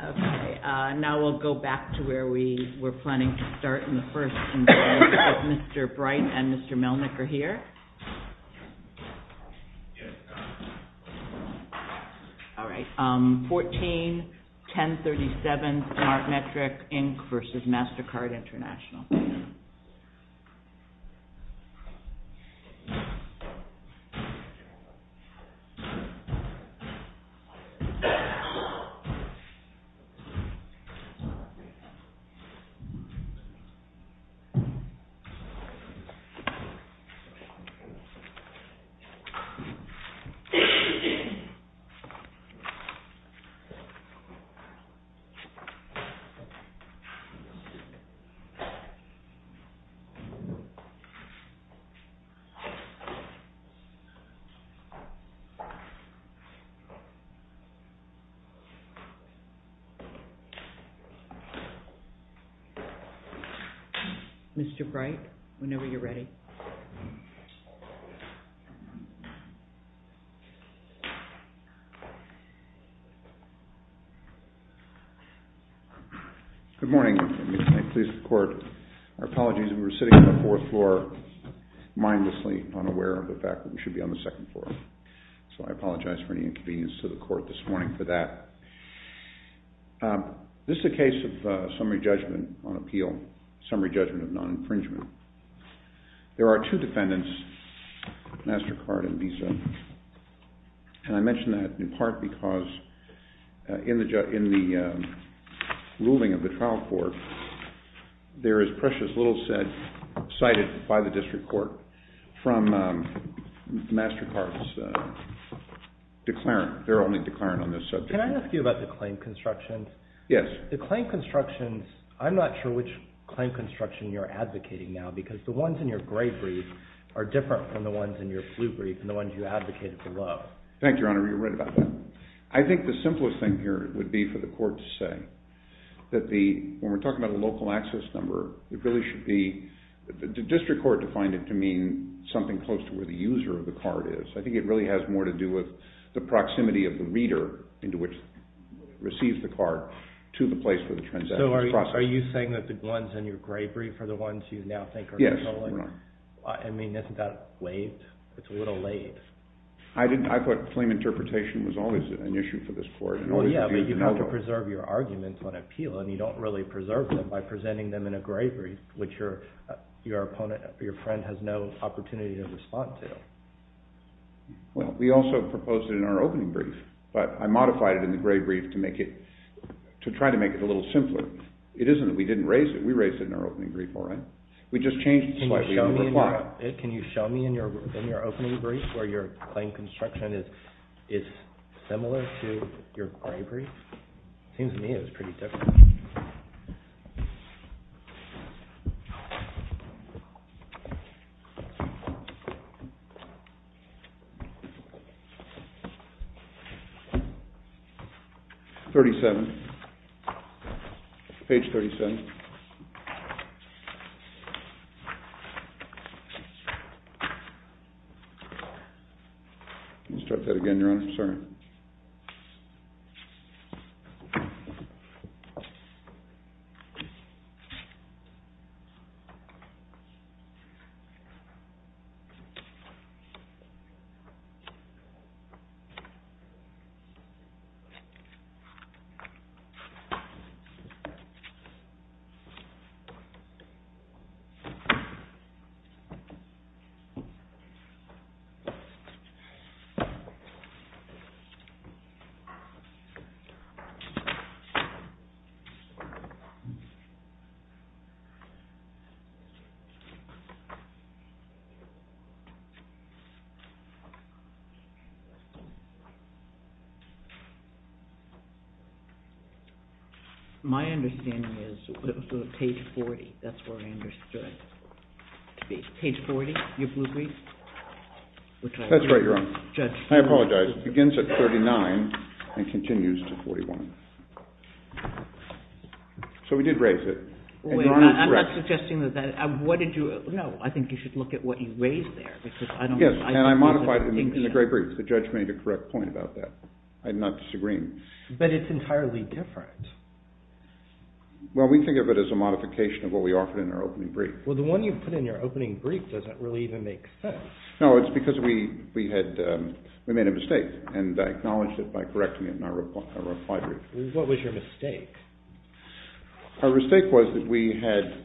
Okay, now we'll go back to where we were planning to start in the first meeting with Mr. Bright and Mr. Melnick are here. Alright, 14-1037 SmartMetric Inc. v. Mastercard International. 14-1037 SmartMetric Inc. v. Mastercard International. Mr. Bright, whenever you're ready. Good morning. I'm pleased to report our apologies. We were sitting on the fourth floor mindlessly, unaware of the fact that we should be on the second floor. So I apologize for any inconvenience to the court this morning for that. This is a case of summary judgment on appeal, summary judgment of non-infringement. There are two defendants, Mastercard and Visa, and I mention that in part because in the ruling of the trial court, there is precious little evidence cited by the district court from Mastercard's declarant. They're only declarant on this subject. Can I ask you about the claim construction? Yes. The claim construction, I'm not sure which claim construction you're advocating now because the ones in your gray brief are different from the ones in your blue brief and the ones you advocated below. Thank you, Your Honor. You're right about that. I think the simplest thing here would be for the court to say that when we're talking about a local access number, it really should be, the district court defined it to mean something close to where the user of the card is. I think it really has more to do with the proximity of the reader into which receives the card to the place where the transaction is processed. So are you saying that the ones in your gray brief are the ones you now think are controlling? Yes, Your Honor. I mean, isn't that late? It's a little late. I thought claim interpretation was always an issue for this court. Well, yeah, but you have to preserve your arguments on appeal, and you don't really preserve them by presenting them in a gray brief, which your opponent or your friend has no opportunity to respond to. Well, we also proposed it in our opening brief, but I modified it in the gray brief to make it, to try to make it a little simpler. It isn't that we didn't raise it. We raised it in our opening brief, all right? We just changed slightly in the reply. Can you show me in your opening brief where your claim construction is similar to your gray brief? Seems to me it was pretty different. Thirty-seven. Page 37. Let me start that again, Your Honor. I'm sorry. All right. My understanding is it was page 40. That's where I understood it to be. Page 40, your blue brief? That's right, Your Honor. Judge. I apologize. It begins at 39 and continues to 41. So we did raise it, and Your Honor is correct. I'm not suggesting that that, what did you, no, I think you should look at what you raised there, because I don't know. Yes, and I modified it in the gray brief. The judge made a correct point about that. I'm not disagreeing. But it's entirely different. Well, we think of it as a modification of what we offered in our opening brief. Well, the one you put in your opening brief doesn't really even make sense. No, it's because we had, we made a mistake, and I acknowledged it by correcting it in our reply brief. What was your mistake? Our mistake was that we had,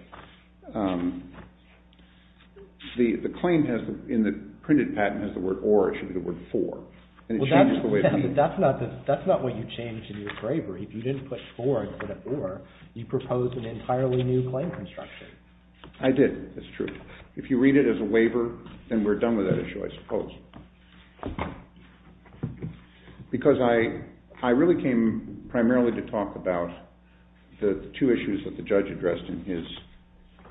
the claim has, in the printed patent has the word or, it should be the word for, and it changes the way it means. That's not what you changed in your bravery. If you didn't put for instead of or, you proposed an entirely new claim construction. I did, that's true. If you read it as a waiver, then we're done with that issue, I suppose. Because I, I really came primarily to talk about the two issues that the judge addressed in his,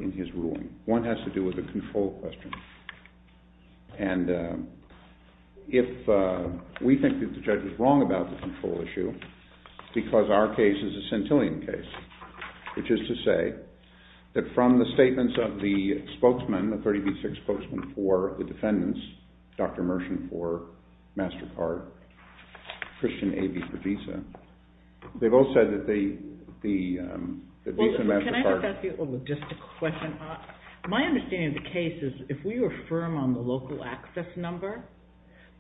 in his ruling. One has to do with the control question. And if we think that the judge was wrong about the control issue, because our case is a centillion case, which is to say that from the statements of the spokesman, the 30 v. 6 spokesman for the defendants, Dr. Mershon for MasterCard, Christian Avey for Visa, they've all said that the, the Visa MasterCard. Well, can I just ask you a logistical question? My understanding of the case is if we were firm on the local access number,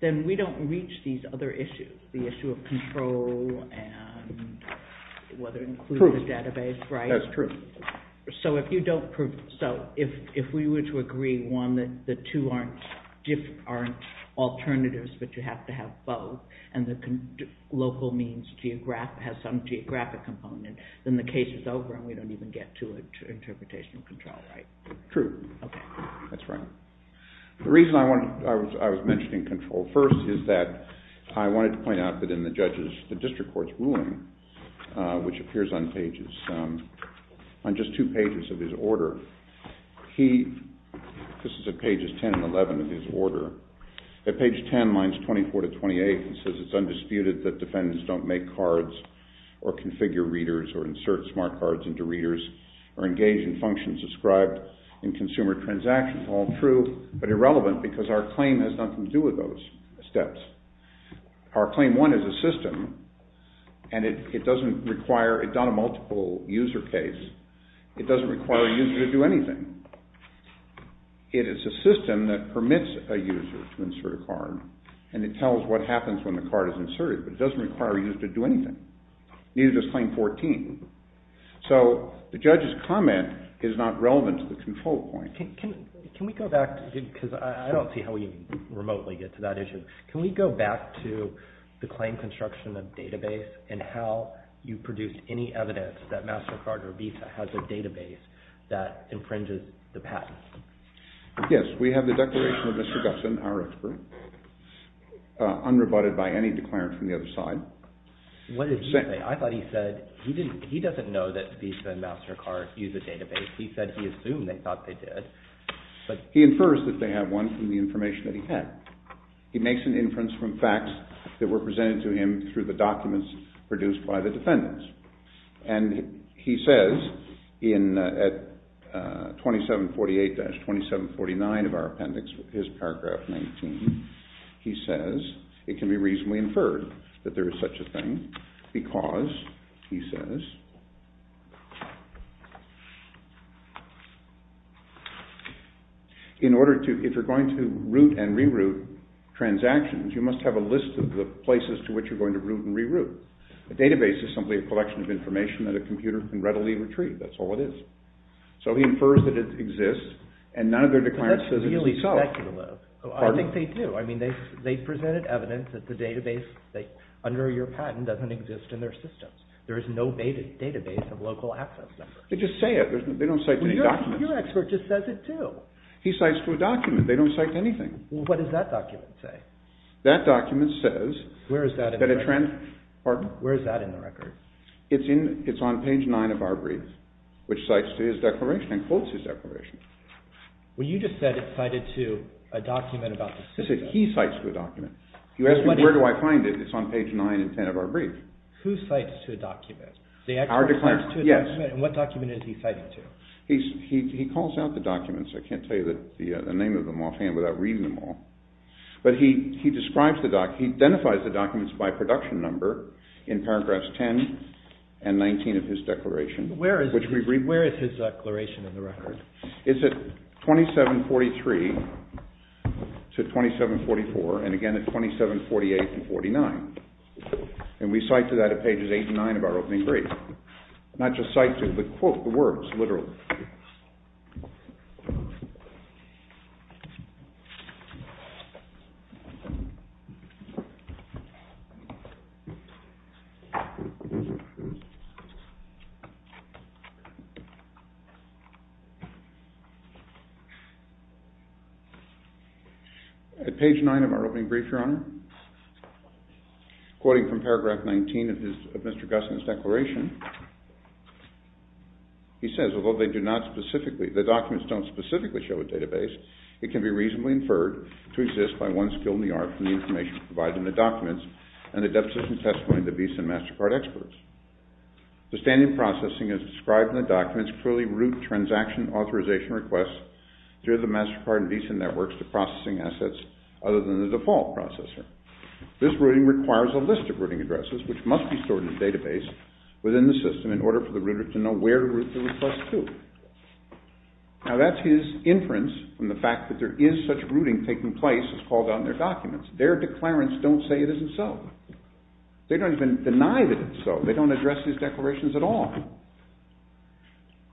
then we don't reach these other issues, the issue of control and whether it includes the database, right? That's true. So if you don't prove, so if, if we were to agree, one, that the two aren't different, aren't alternatives, but you have to have both, and the local means geographic, has some geographic component, then the case is over and we don't even get to an interpretation of control, right? True. Okay. That's right. The reason I wanted, I was, I was mentioning control first is that I wanted to point out that in the judge's, the district court's ruling, which appears on pages, on just two pages of his order, he, this is at pages 10 and 11 of his order. At page 10, lines 24 to 28, he says it's undisputed that defendants don't make cards or configure readers or insert smart cards into readers or engage in functions described in consumer transactions. All true, but irrelevant because our claim has nothing to do with those steps. Our claim one is a system and it, it doesn't require, it's not a multiple user case. It doesn't require a user to do anything. It is a system that permits a user to insert a card and it tells what happens when the card is inserted, but it doesn't require a user to do anything. Neither does claim 14. So the judge's comment is not relevant to the control point. Can we go back to, because I don't see how we remotely get to that issue. Can we go back to the claim construction of database and how you produced any evidence that MasterCard or Visa has a database that infringes the patent? Yes. We have the declaration of Mr. Gupson, our expert, unrebutted by any declarant from the other side. What did he say? I thought he said he didn't, he doesn't know that Visa and MasterCard use a database. He said he assumed they thought they did. He infers that they have one from the information that he had. He makes an inference from facts that were presented to him through the documents produced by the defendants. And he says in, at 2748-2749 of our appendix, his paragraph 19, he says it can be reasonably inferred that there is such a thing because, he says, in order to, if you're going to root and reroute transactions, you must have a list of the places to which you're going to root and reroute. A database is simply a collection of information that a computer can readily retrieve. That's all it is. So he infers that it exists, and none of their declarants says it is itself. That's really speculative. I think they do. I mean, they've presented evidence that the database under your patent doesn't exist in their systems. There is no database of local access numbers. They just say it. They don't cite any documents. Well, your expert just says it too. He cites to a document. They don't cite to anything. Well, what does that document say? That document says- Where is that in the record? Pardon? Where is that in the record? It's on page nine of our brief, which cites to his declaration and quotes his declaration. Well, you just said it's cited to a document about the system. He cites to a document. You ask me where do I find it, it's on page nine and ten of our brief. Who cites to a document? Our declarant. The expert cites to a document, and what document is he citing to? He calls out the documents. I can't tell you the name of them offhand without reading them all. But he identifies the documents by production number in paragraphs 10 and 19 of his declaration. Where is his declaration in the record? It's at 2743 to 2744, and again at 2748 to 49. And we cite to that at pages eight and nine of our opening brief. Not just cite to, but quote the words, literally. At page nine of our opening brief, Your Honor, quoting from paragraph 19 of Mr. Gusman's declaration, he says, although they do not specifically, the documents don't specifically show a database, it can be reasonably inferred to exist by one skill in the art from the information provided in the documents and the deficit and testimony of the BESIN MasterCard experts. The standard processing as described in the documents clearly root transaction authorization requests through the MasterCard and BESIN networks to processing assets other than the default processor. This routing requires a list of routing addresses which must be stored in the database within the system in order for the router to know where to route the request to. Now that's his inference from the fact that there is such routing taking place as called out in their documents. Their declarants don't say it isn't so. They don't even deny that it's so. They don't address these declarations at all.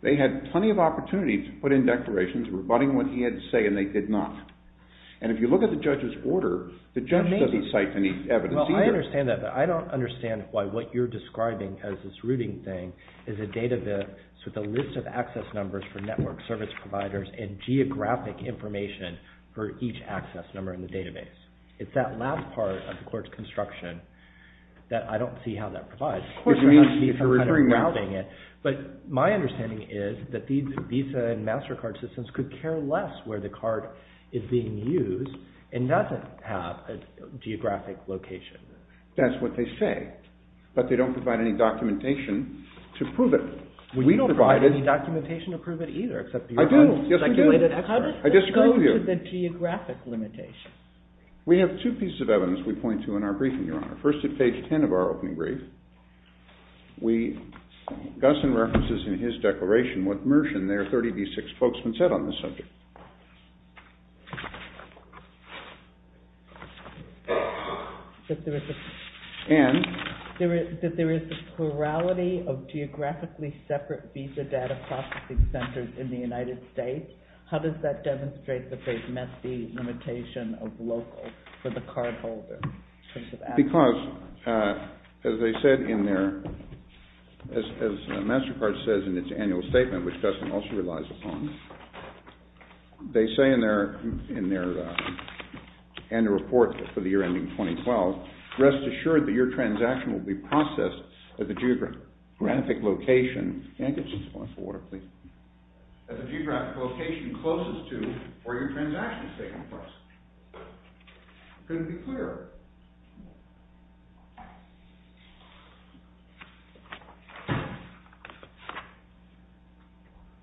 They had plenty of opportunity to put in declarations rebutting what he had to say and they did not. And if you look at the judge's order, the judge doesn't cite any evidence either. Well, I understand that, but I don't understand why what you're describing as this routing thing is a database with a list of access numbers for network service providers and geographic information for each access number in the database. It's that last part of the court's construction that I don't see how that provides. But my understanding is that Visa and MasterCard systems could care less where the card is being used and doesn't have a geographic location. That's what they say, but they don't provide any documentation to prove it. We don't provide any documentation to prove it either. I do. How does this go to the geographic limitation? First at page 10 of our opening brief, Gusson references in his declaration what Mershon, their 30B6 spokesman, said on this subject. And? That there is a plurality of geographically separate Visa data processing centers in the United States. How does that demonstrate that they've met the limitation of local for the cardholder? Because, as MasterCard says in its annual statement, which Gusson also relies upon, they say in their annual report for the year ending 2012, rest assured that your transaction will be processed at the geographic location closest to where your transaction is taking place. Can it be clearer?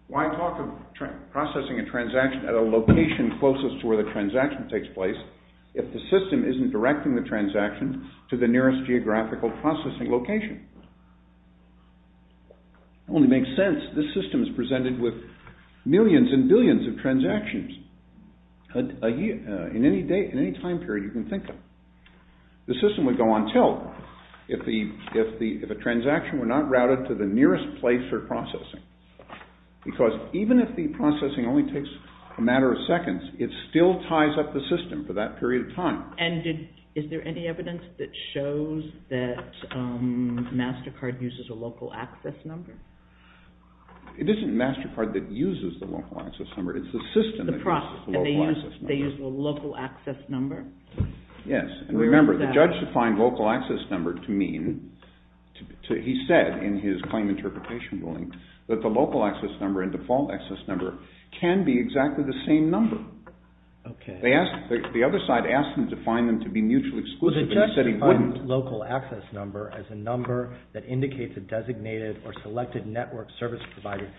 Why talk of processing a transaction at a location closest to where the transaction takes place if the system isn't directing the transaction to the nearest geographical processing location? It only makes sense. This system is presented with millions and billions of transactions in any time period you can think of. The system would go on tilt if a transaction were not routed to the nearest place for processing. Because even if the processing only takes a matter of seconds, it still ties up the system for that period of time. And is there any evidence that shows that MasterCard uses a local access number? It isn't MasterCard that uses the local access number. It's the system that uses the local access number. And they use the local access number? Yes. And remember, the judge defined local access number to mean, he said in his claim interpretation ruling, that the local access number and default access number can be exactly the same number. Okay. The other side asked him to define them to be mutually exclusive, and he said he wouldn't. Well, the judge defined local access number as a number that indicates a designated or selected network service provided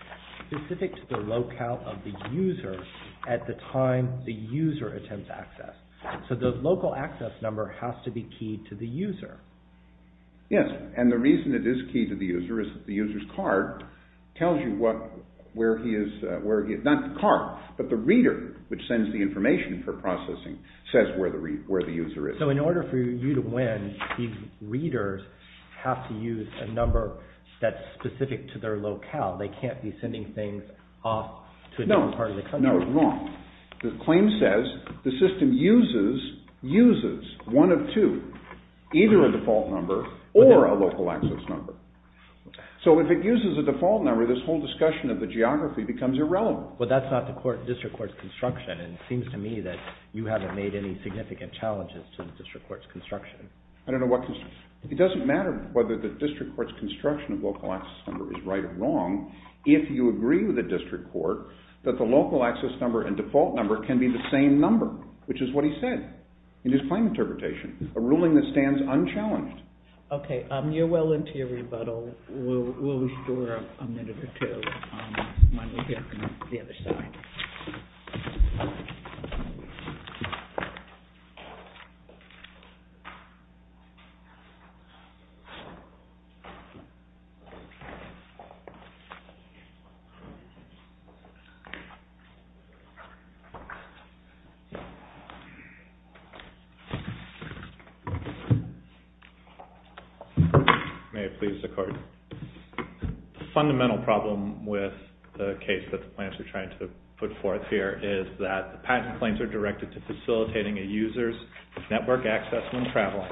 specific to the locale of the user at the time the user attempts access. So the local access number has to be keyed to the user. Yes. And the reason it is keyed to the user is that the user's card tells you where he is, not the card, but the reader, which sends the information for processing, says where the user is. So in order for you to win, the readers have to use a number that's specific to their locale. They can't be sending things off to another part of the country. No, no, wrong. The claim says the system uses one of two, either a default number or a local access number. So if it uses a default number, this whole discussion of the geography becomes irrelevant. Well, that's not the district court's construction, and it seems to me that you haven't made any significant challenges to the district court's construction. I don't know what construction. It doesn't matter whether the district court's construction of local access number is right or wrong. If you agree with the district court that the local access number and default number can be the same number, which is what he said in his claim interpretation, a ruling that stands unchallenged. Okay. You're well into your rebuttal. We'll restore a minute or two when we get to the other side. Thank you. May it please the court. The fundamental problem with the case that the plaintiffs are trying to put forth here is that the patent claims are directed to facilitating a user's network access when traveling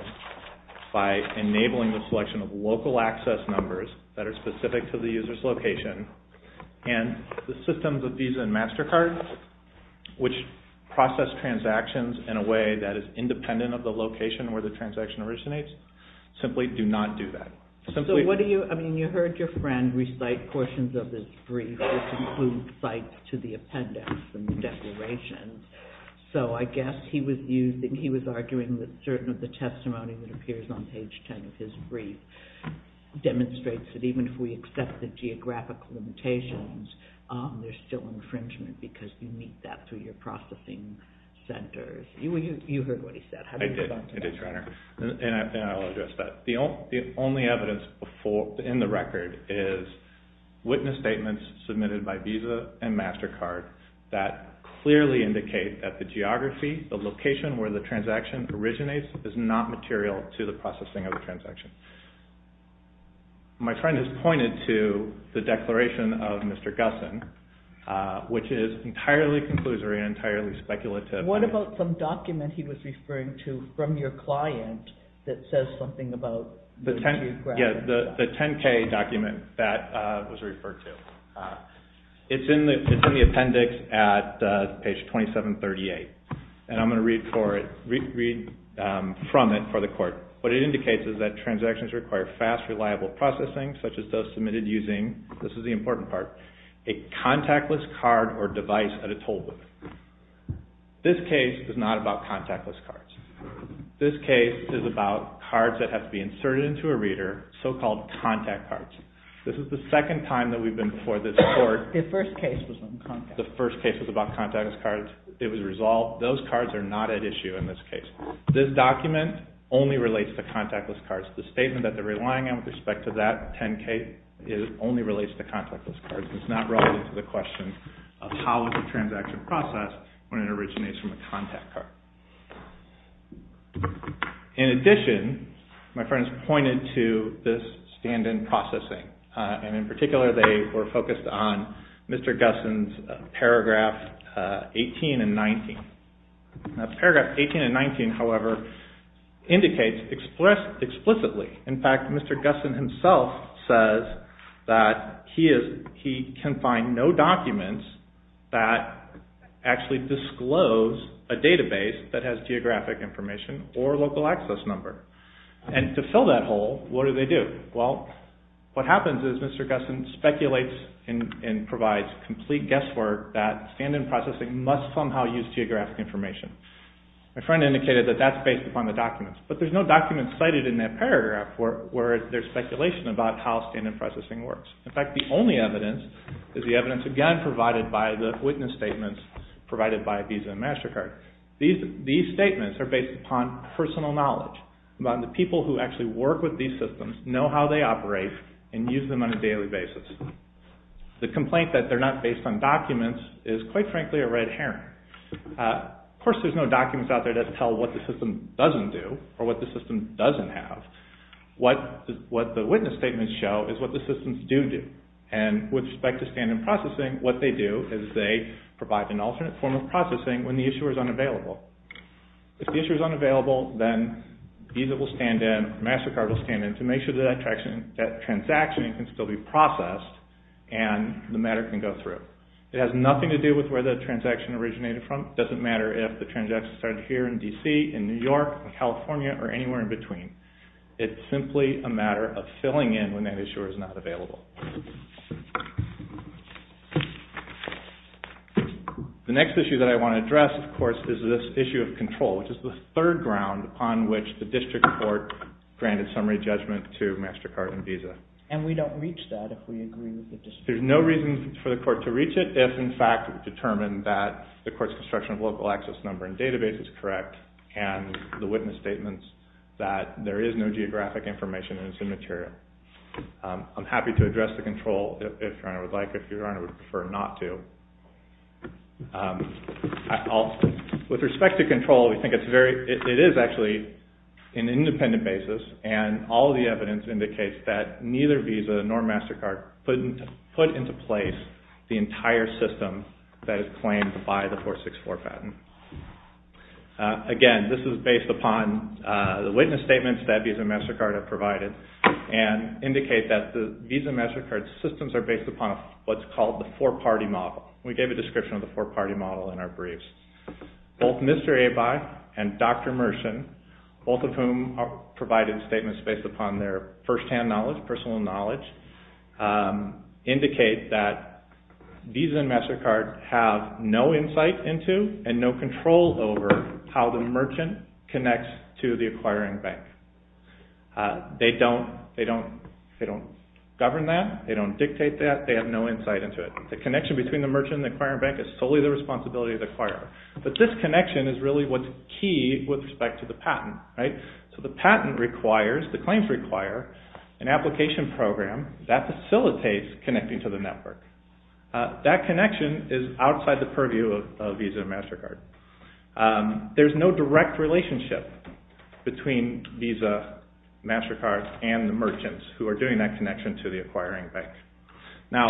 by enabling the selection of local access numbers that are specific to the user's location. And the systems of Visa and MasterCard, which process transactions in a way that is independent of the location where the transaction originates, simply do not do that. So what do you, I mean, you heard your friend recite portions of this brief which include cites to the appendix and declarations. So I guess he was arguing that certain of the testimony that appears on page 10 of his brief demonstrates that even if we accept the geographic limitations, there's still infringement because you meet that through your processing centers. You heard what he said. I did. And I'll address that. The only evidence in the record is witness statements submitted by Visa and MasterCard that clearly indicate that the geography, the location where the transaction originates, is not material to the processing of the transaction. My friend has pointed to the declaration of Mr. Gusson, which is entirely conclusory and entirely speculative. What about some document he was referring to from your client that says something about... Yeah, the 10-K document that was referred to. It's in the appendix at page 2738. And I'm going to read from it for the court. What it indicates is that transactions require fast, reliable processing, such as those submitted using, this is the important part, a contactless card or device at a toll booth. This case is not about contactless cards. This case is about cards that have to be inserted into a reader, so-called contact cards. This is the second time that we've been before this court. The first case was on contact. The first case was about contactless cards. It was resolved. Those cards are not at issue in this case. This document only relates to contactless cards. The statement that they're relying on with respect to that 10-K, it only relates to contactless cards. It's not relevant to the question of how is the transaction processed when it originates from a contact card. In addition, my friend has pointed to this stand-in processing. And in particular, they were focused on Mr. Gusson's paragraph 18 and 19. Paragraph 18 and 19, however, indicates explicitly, in fact, Mr. Gusson himself says that he can find no documents that actually disclose a database that has geographic information or local access number. And to fill that hole, what do they do? Well, what happens is Mr. Gusson speculates and provides complete guesswork that stand-in processing must somehow use geographic information. My friend indicated that that's based upon the documents. But there's no document cited in that paragraph where there's speculation about how stand-in processing works. In fact, the only evidence is the evidence, again, provided by the witness statements provided by Visa and MasterCard. These statements are based upon personal knowledge, about the people who actually work with these systems, know how they operate, and use them on a daily basis. The complaint that they're not based on documents is, quite frankly, a red herring. Of course, there's no documents out there that tell what the system doesn't do or what the system doesn't have. What the witness statements show is what the systems do do. And with respect to stand-in processing, what they do is they provide an alternate form of processing when the issuer is unavailable. If the issuer is unavailable, then Visa will stand in, MasterCard will stand in, to make sure that that transaction can still be processed and the matter can go through. It has nothing to do with where the transaction originated from. It doesn't matter if the transaction started here in D.C., in New York, in California, or anywhere in between. It's simply a matter of filling in when that issuer is not available. The next issue that I want to address, of course, is this issue of control, which is the third ground on which the district court granted summary judgment to MasterCard and Visa. And we don't reach that if we agree with the district court. There's no reason for the court to reach it if, in fact, we've determined that the court's construction of local access number and database is correct and the witness statements that there is no geographic information and it's immaterial. I'm happy to address the control if Your Honor would like, if Your Honor would prefer not to. With respect to control, we think it is actually an independent basis and all the evidence indicates that neither Visa nor MasterCard put into place the entire system that is claimed by the 464 patent. Again, this is based upon the witness statements that Visa and MasterCard have provided and indicate that the Visa and MasterCard systems are based upon what's called the four-party model. We gave a description of the four-party model in our briefs. Both Mr. Abai and Dr. Mershon, both of whom provided statements based upon their firsthand knowledge, personal knowledge, indicate that Visa and MasterCard have no insight into and no control over how the merchant connects to the acquiring bank. They don't govern that. They don't dictate that. They have no insight into it. The connection between the merchant and the acquiring bank is solely the responsibility of the acquirer. But this connection is really what's key with respect to the patent. The patent requires, the claims require, an application program that facilitates connecting to the network. That connection is outside the purview of Visa and MasterCard. There's no direct relationship between Visa, MasterCard, and the merchants who are doing that connection to the acquiring bank. Now,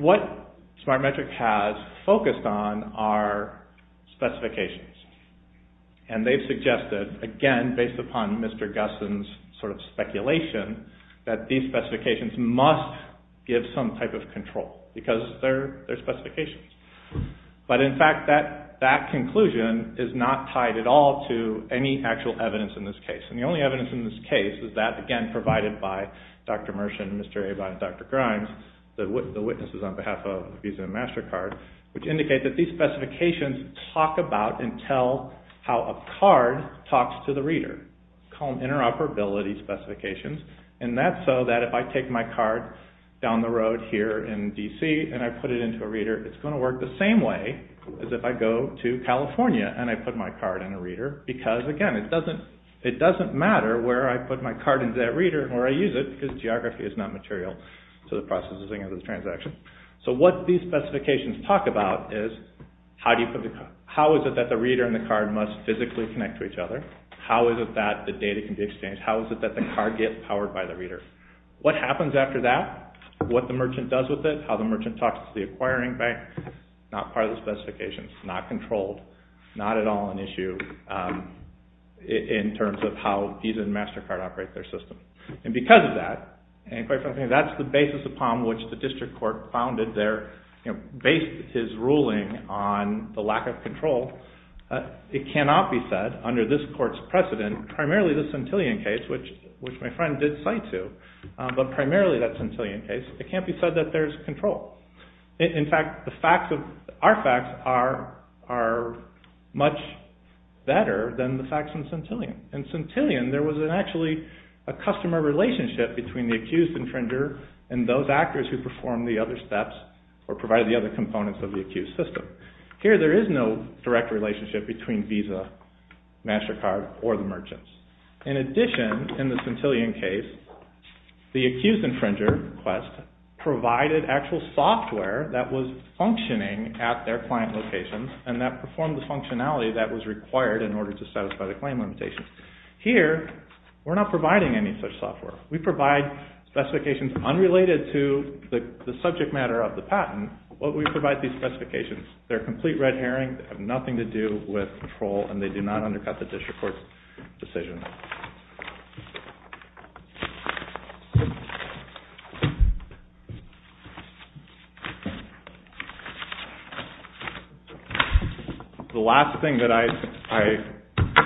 what Smartmetric has focused on are specifications. And they've suggested, again, based upon Mr. Gusson's sort of speculation, that these specifications must give some type of control because they're specifications. But in fact, that conclusion is not tied at all to any actual evidence in this case. And the only evidence in this case is that, again, provided by Dr. Mershon, Mr. Abott, and Dr. Grimes, the witnesses on behalf of Visa and MasterCard, which indicate that these specifications talk about and tell how a card talks to the reader. We call them interoperability specifications. And that's so that if I take my card down the road here in D.C. and I put it into a reader, it's going to work the same way as if I go to California and I put my card in a reader because, again, it doesn't matter where I put my card into that reader and where I use it because geography is not material to the processing of the transaction. So what these specifications talk about is, how is it that the reader and the card must physically connect to each other? How is it that the data can be exchanged? How is it that the card gets powered by the reader? What happens after that? What the merchant does with it? How the merchant talks to the acquiring bank? Not part of the specifications, not controlled, not at all an issue in terms of how Visa and MasterCard operate their system. And because of that, and quite frankly, that's the basis upon which the district court founded their, based his ruling on the lack of control. It cannot be said under this court's precedent, primarily the Centillion case, which my friend did cite to, but primarily that Centillion case, it can't be said that there's control. In fact, our facts are much better than the facts in Centillion. In Centillion, there was actually a customer relationship between the accused infringer and those actors who performed the other steps or provided the other components of the accused system. Here, there is no direct relationship between Visa, MasterCard, or the merchants. In addition, in the Centillion case, the accused infringer, Quest, provided actual software that was functioning at their client locations and that performed the functionality that was required in order to satisfy the claim limitations. Here, we're not providing any such software. We provide specifications unrelated to the subject matter of the patent, but we provide these specifications. They're a complete red herring. They have nothing to do with control and they do not undercut the district court's decision. The last thing that I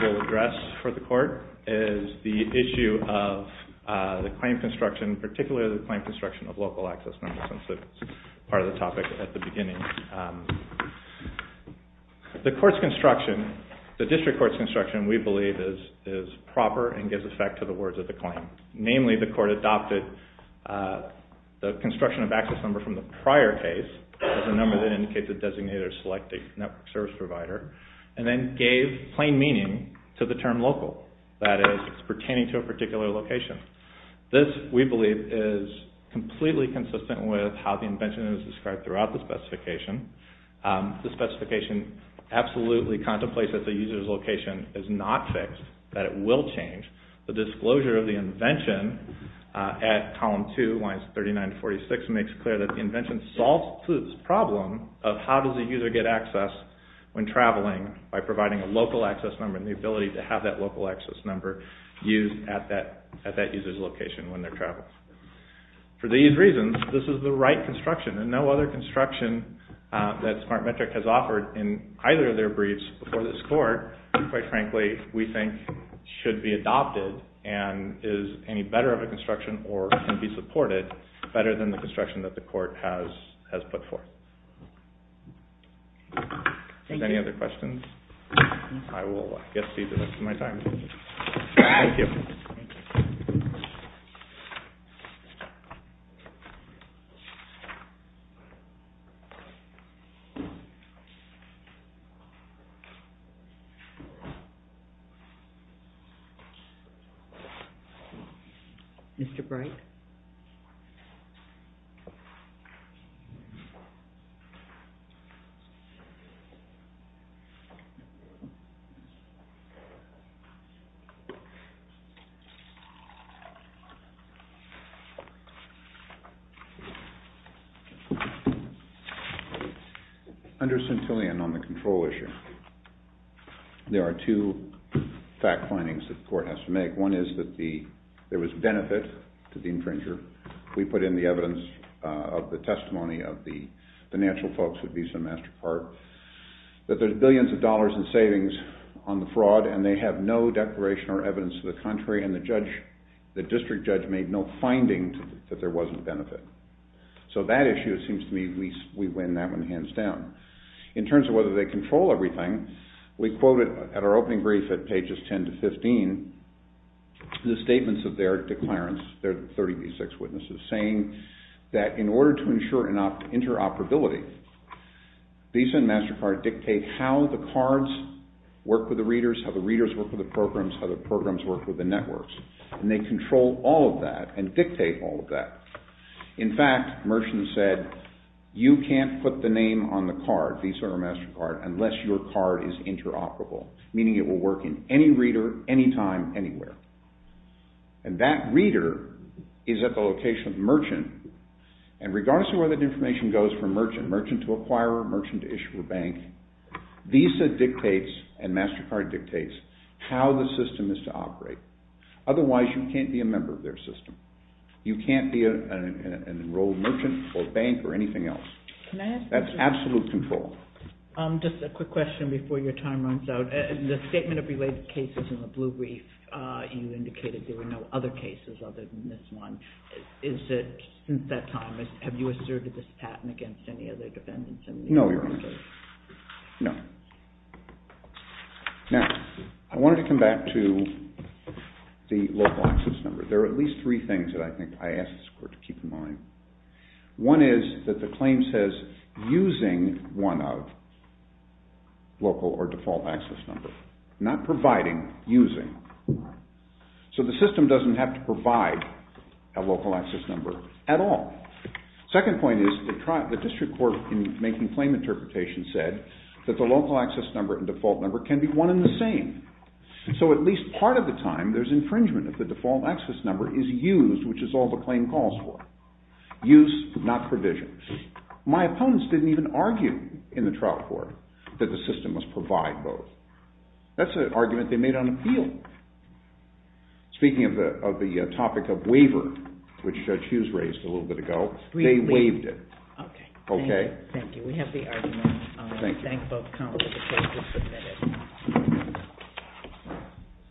will address for the court is the issue of the claim construction, particularly the claim construction of local access numbers, since that's part of the topic at the beginning. The district court's construction, we believe, is proper and gives effect to the words of the claim. Namely, the court adopted the construction of access number from the prior case as a number that indicates a designated or selected network service provider and then gave plain meaning to the term local. That is, it's pertaining to a particular location. This, we believe, is completely consistent with how the invention is described throughout the specification. The specification absolutely contemplates that the user's location is not fixed, that it will change. The disclosure of the invention at column 2, lines 39 to 46, makes clear that the invention solves this problem of how does a user get access when traveling by providing a local access number and the ability to have that local access number used at that user's location when they're traveling. For these reasons, this is the right construction and no other construction that Smartmetric has offered in either of their briefs before this court, quite frankly, we think should be adopted and is any better of a construction or can be supported better than the construction that the court has put forth. Are there any other questions? I will get to you for the rest of my time. Thank you. Thank you. Mr. Bright? Thank you. Under Centillion on the control issue, there are two fact findings that the court has to make. One is that there was benefit to the infringer. We put in the evidence of the testimony of the financial folks at Beeson Master Park, that there's billions of dollars in savings on the fraud and they have no declaration or evidence to the contrary, and the district judge made no finding that there wasn't benefit. So that issue, it seems to me, we win that one hands down. In terms of whether they control everything, we quoted at our opening brief at pages 10 to 15 the statements of their declarants, their 30B6 witnesses, saying that in order to ensure interoperability, Beeson Master Park dictates how the cards work with the readers, how the readers work with the programs, how the programs work with the networks, and they control all of that and dictate all of that. In fact, Merchant said, you can't put the name on the card, Beeson or MasterCard, unless your card is interoperable, meaning it will work in any reader, anytime, anywhere. And that reader is at the location of Merchant, and regardless of where that information goes from Merchant, Merchant to Acquirer, Merchant to Issuer Bank, Beeson dictates and MasterCard dictates how the system is to operate. Otherwise, you can't be a member of their system. You can't be an enrolled merchant or bank or anything else. That's absolute control. Just a quick question before your time runs out. The statement of related cases in the Blue Brief, you indicated there were no other cases other than this one. Is it, since that time, have you asserted this patent against any other defendants? No, Your Honor. No. Now, I wanted to come back to the local access number. There are at least three things that I think I asked this Court to keep in mind. One is that the claim says, using one of local or default access number, not providing, using. So the system doesn't have to provide a local access number at all. Second point is, the District Court, in making claim interpretations, said that the local access number and default number can be one and the same. So at least part of the time, there's infringement if the default access number is used, which is all the claim calls for. Use, not provision. My opponents didn't even argue in the trial court that the system must provide both. That's an argument they made on appeal. Speaking of the topic of waiver, which Judge Hughes raised a little bit ago, they waived it. Okay. Thank you. We have the argument. Thank you. Thank both counsels. The case is submitted.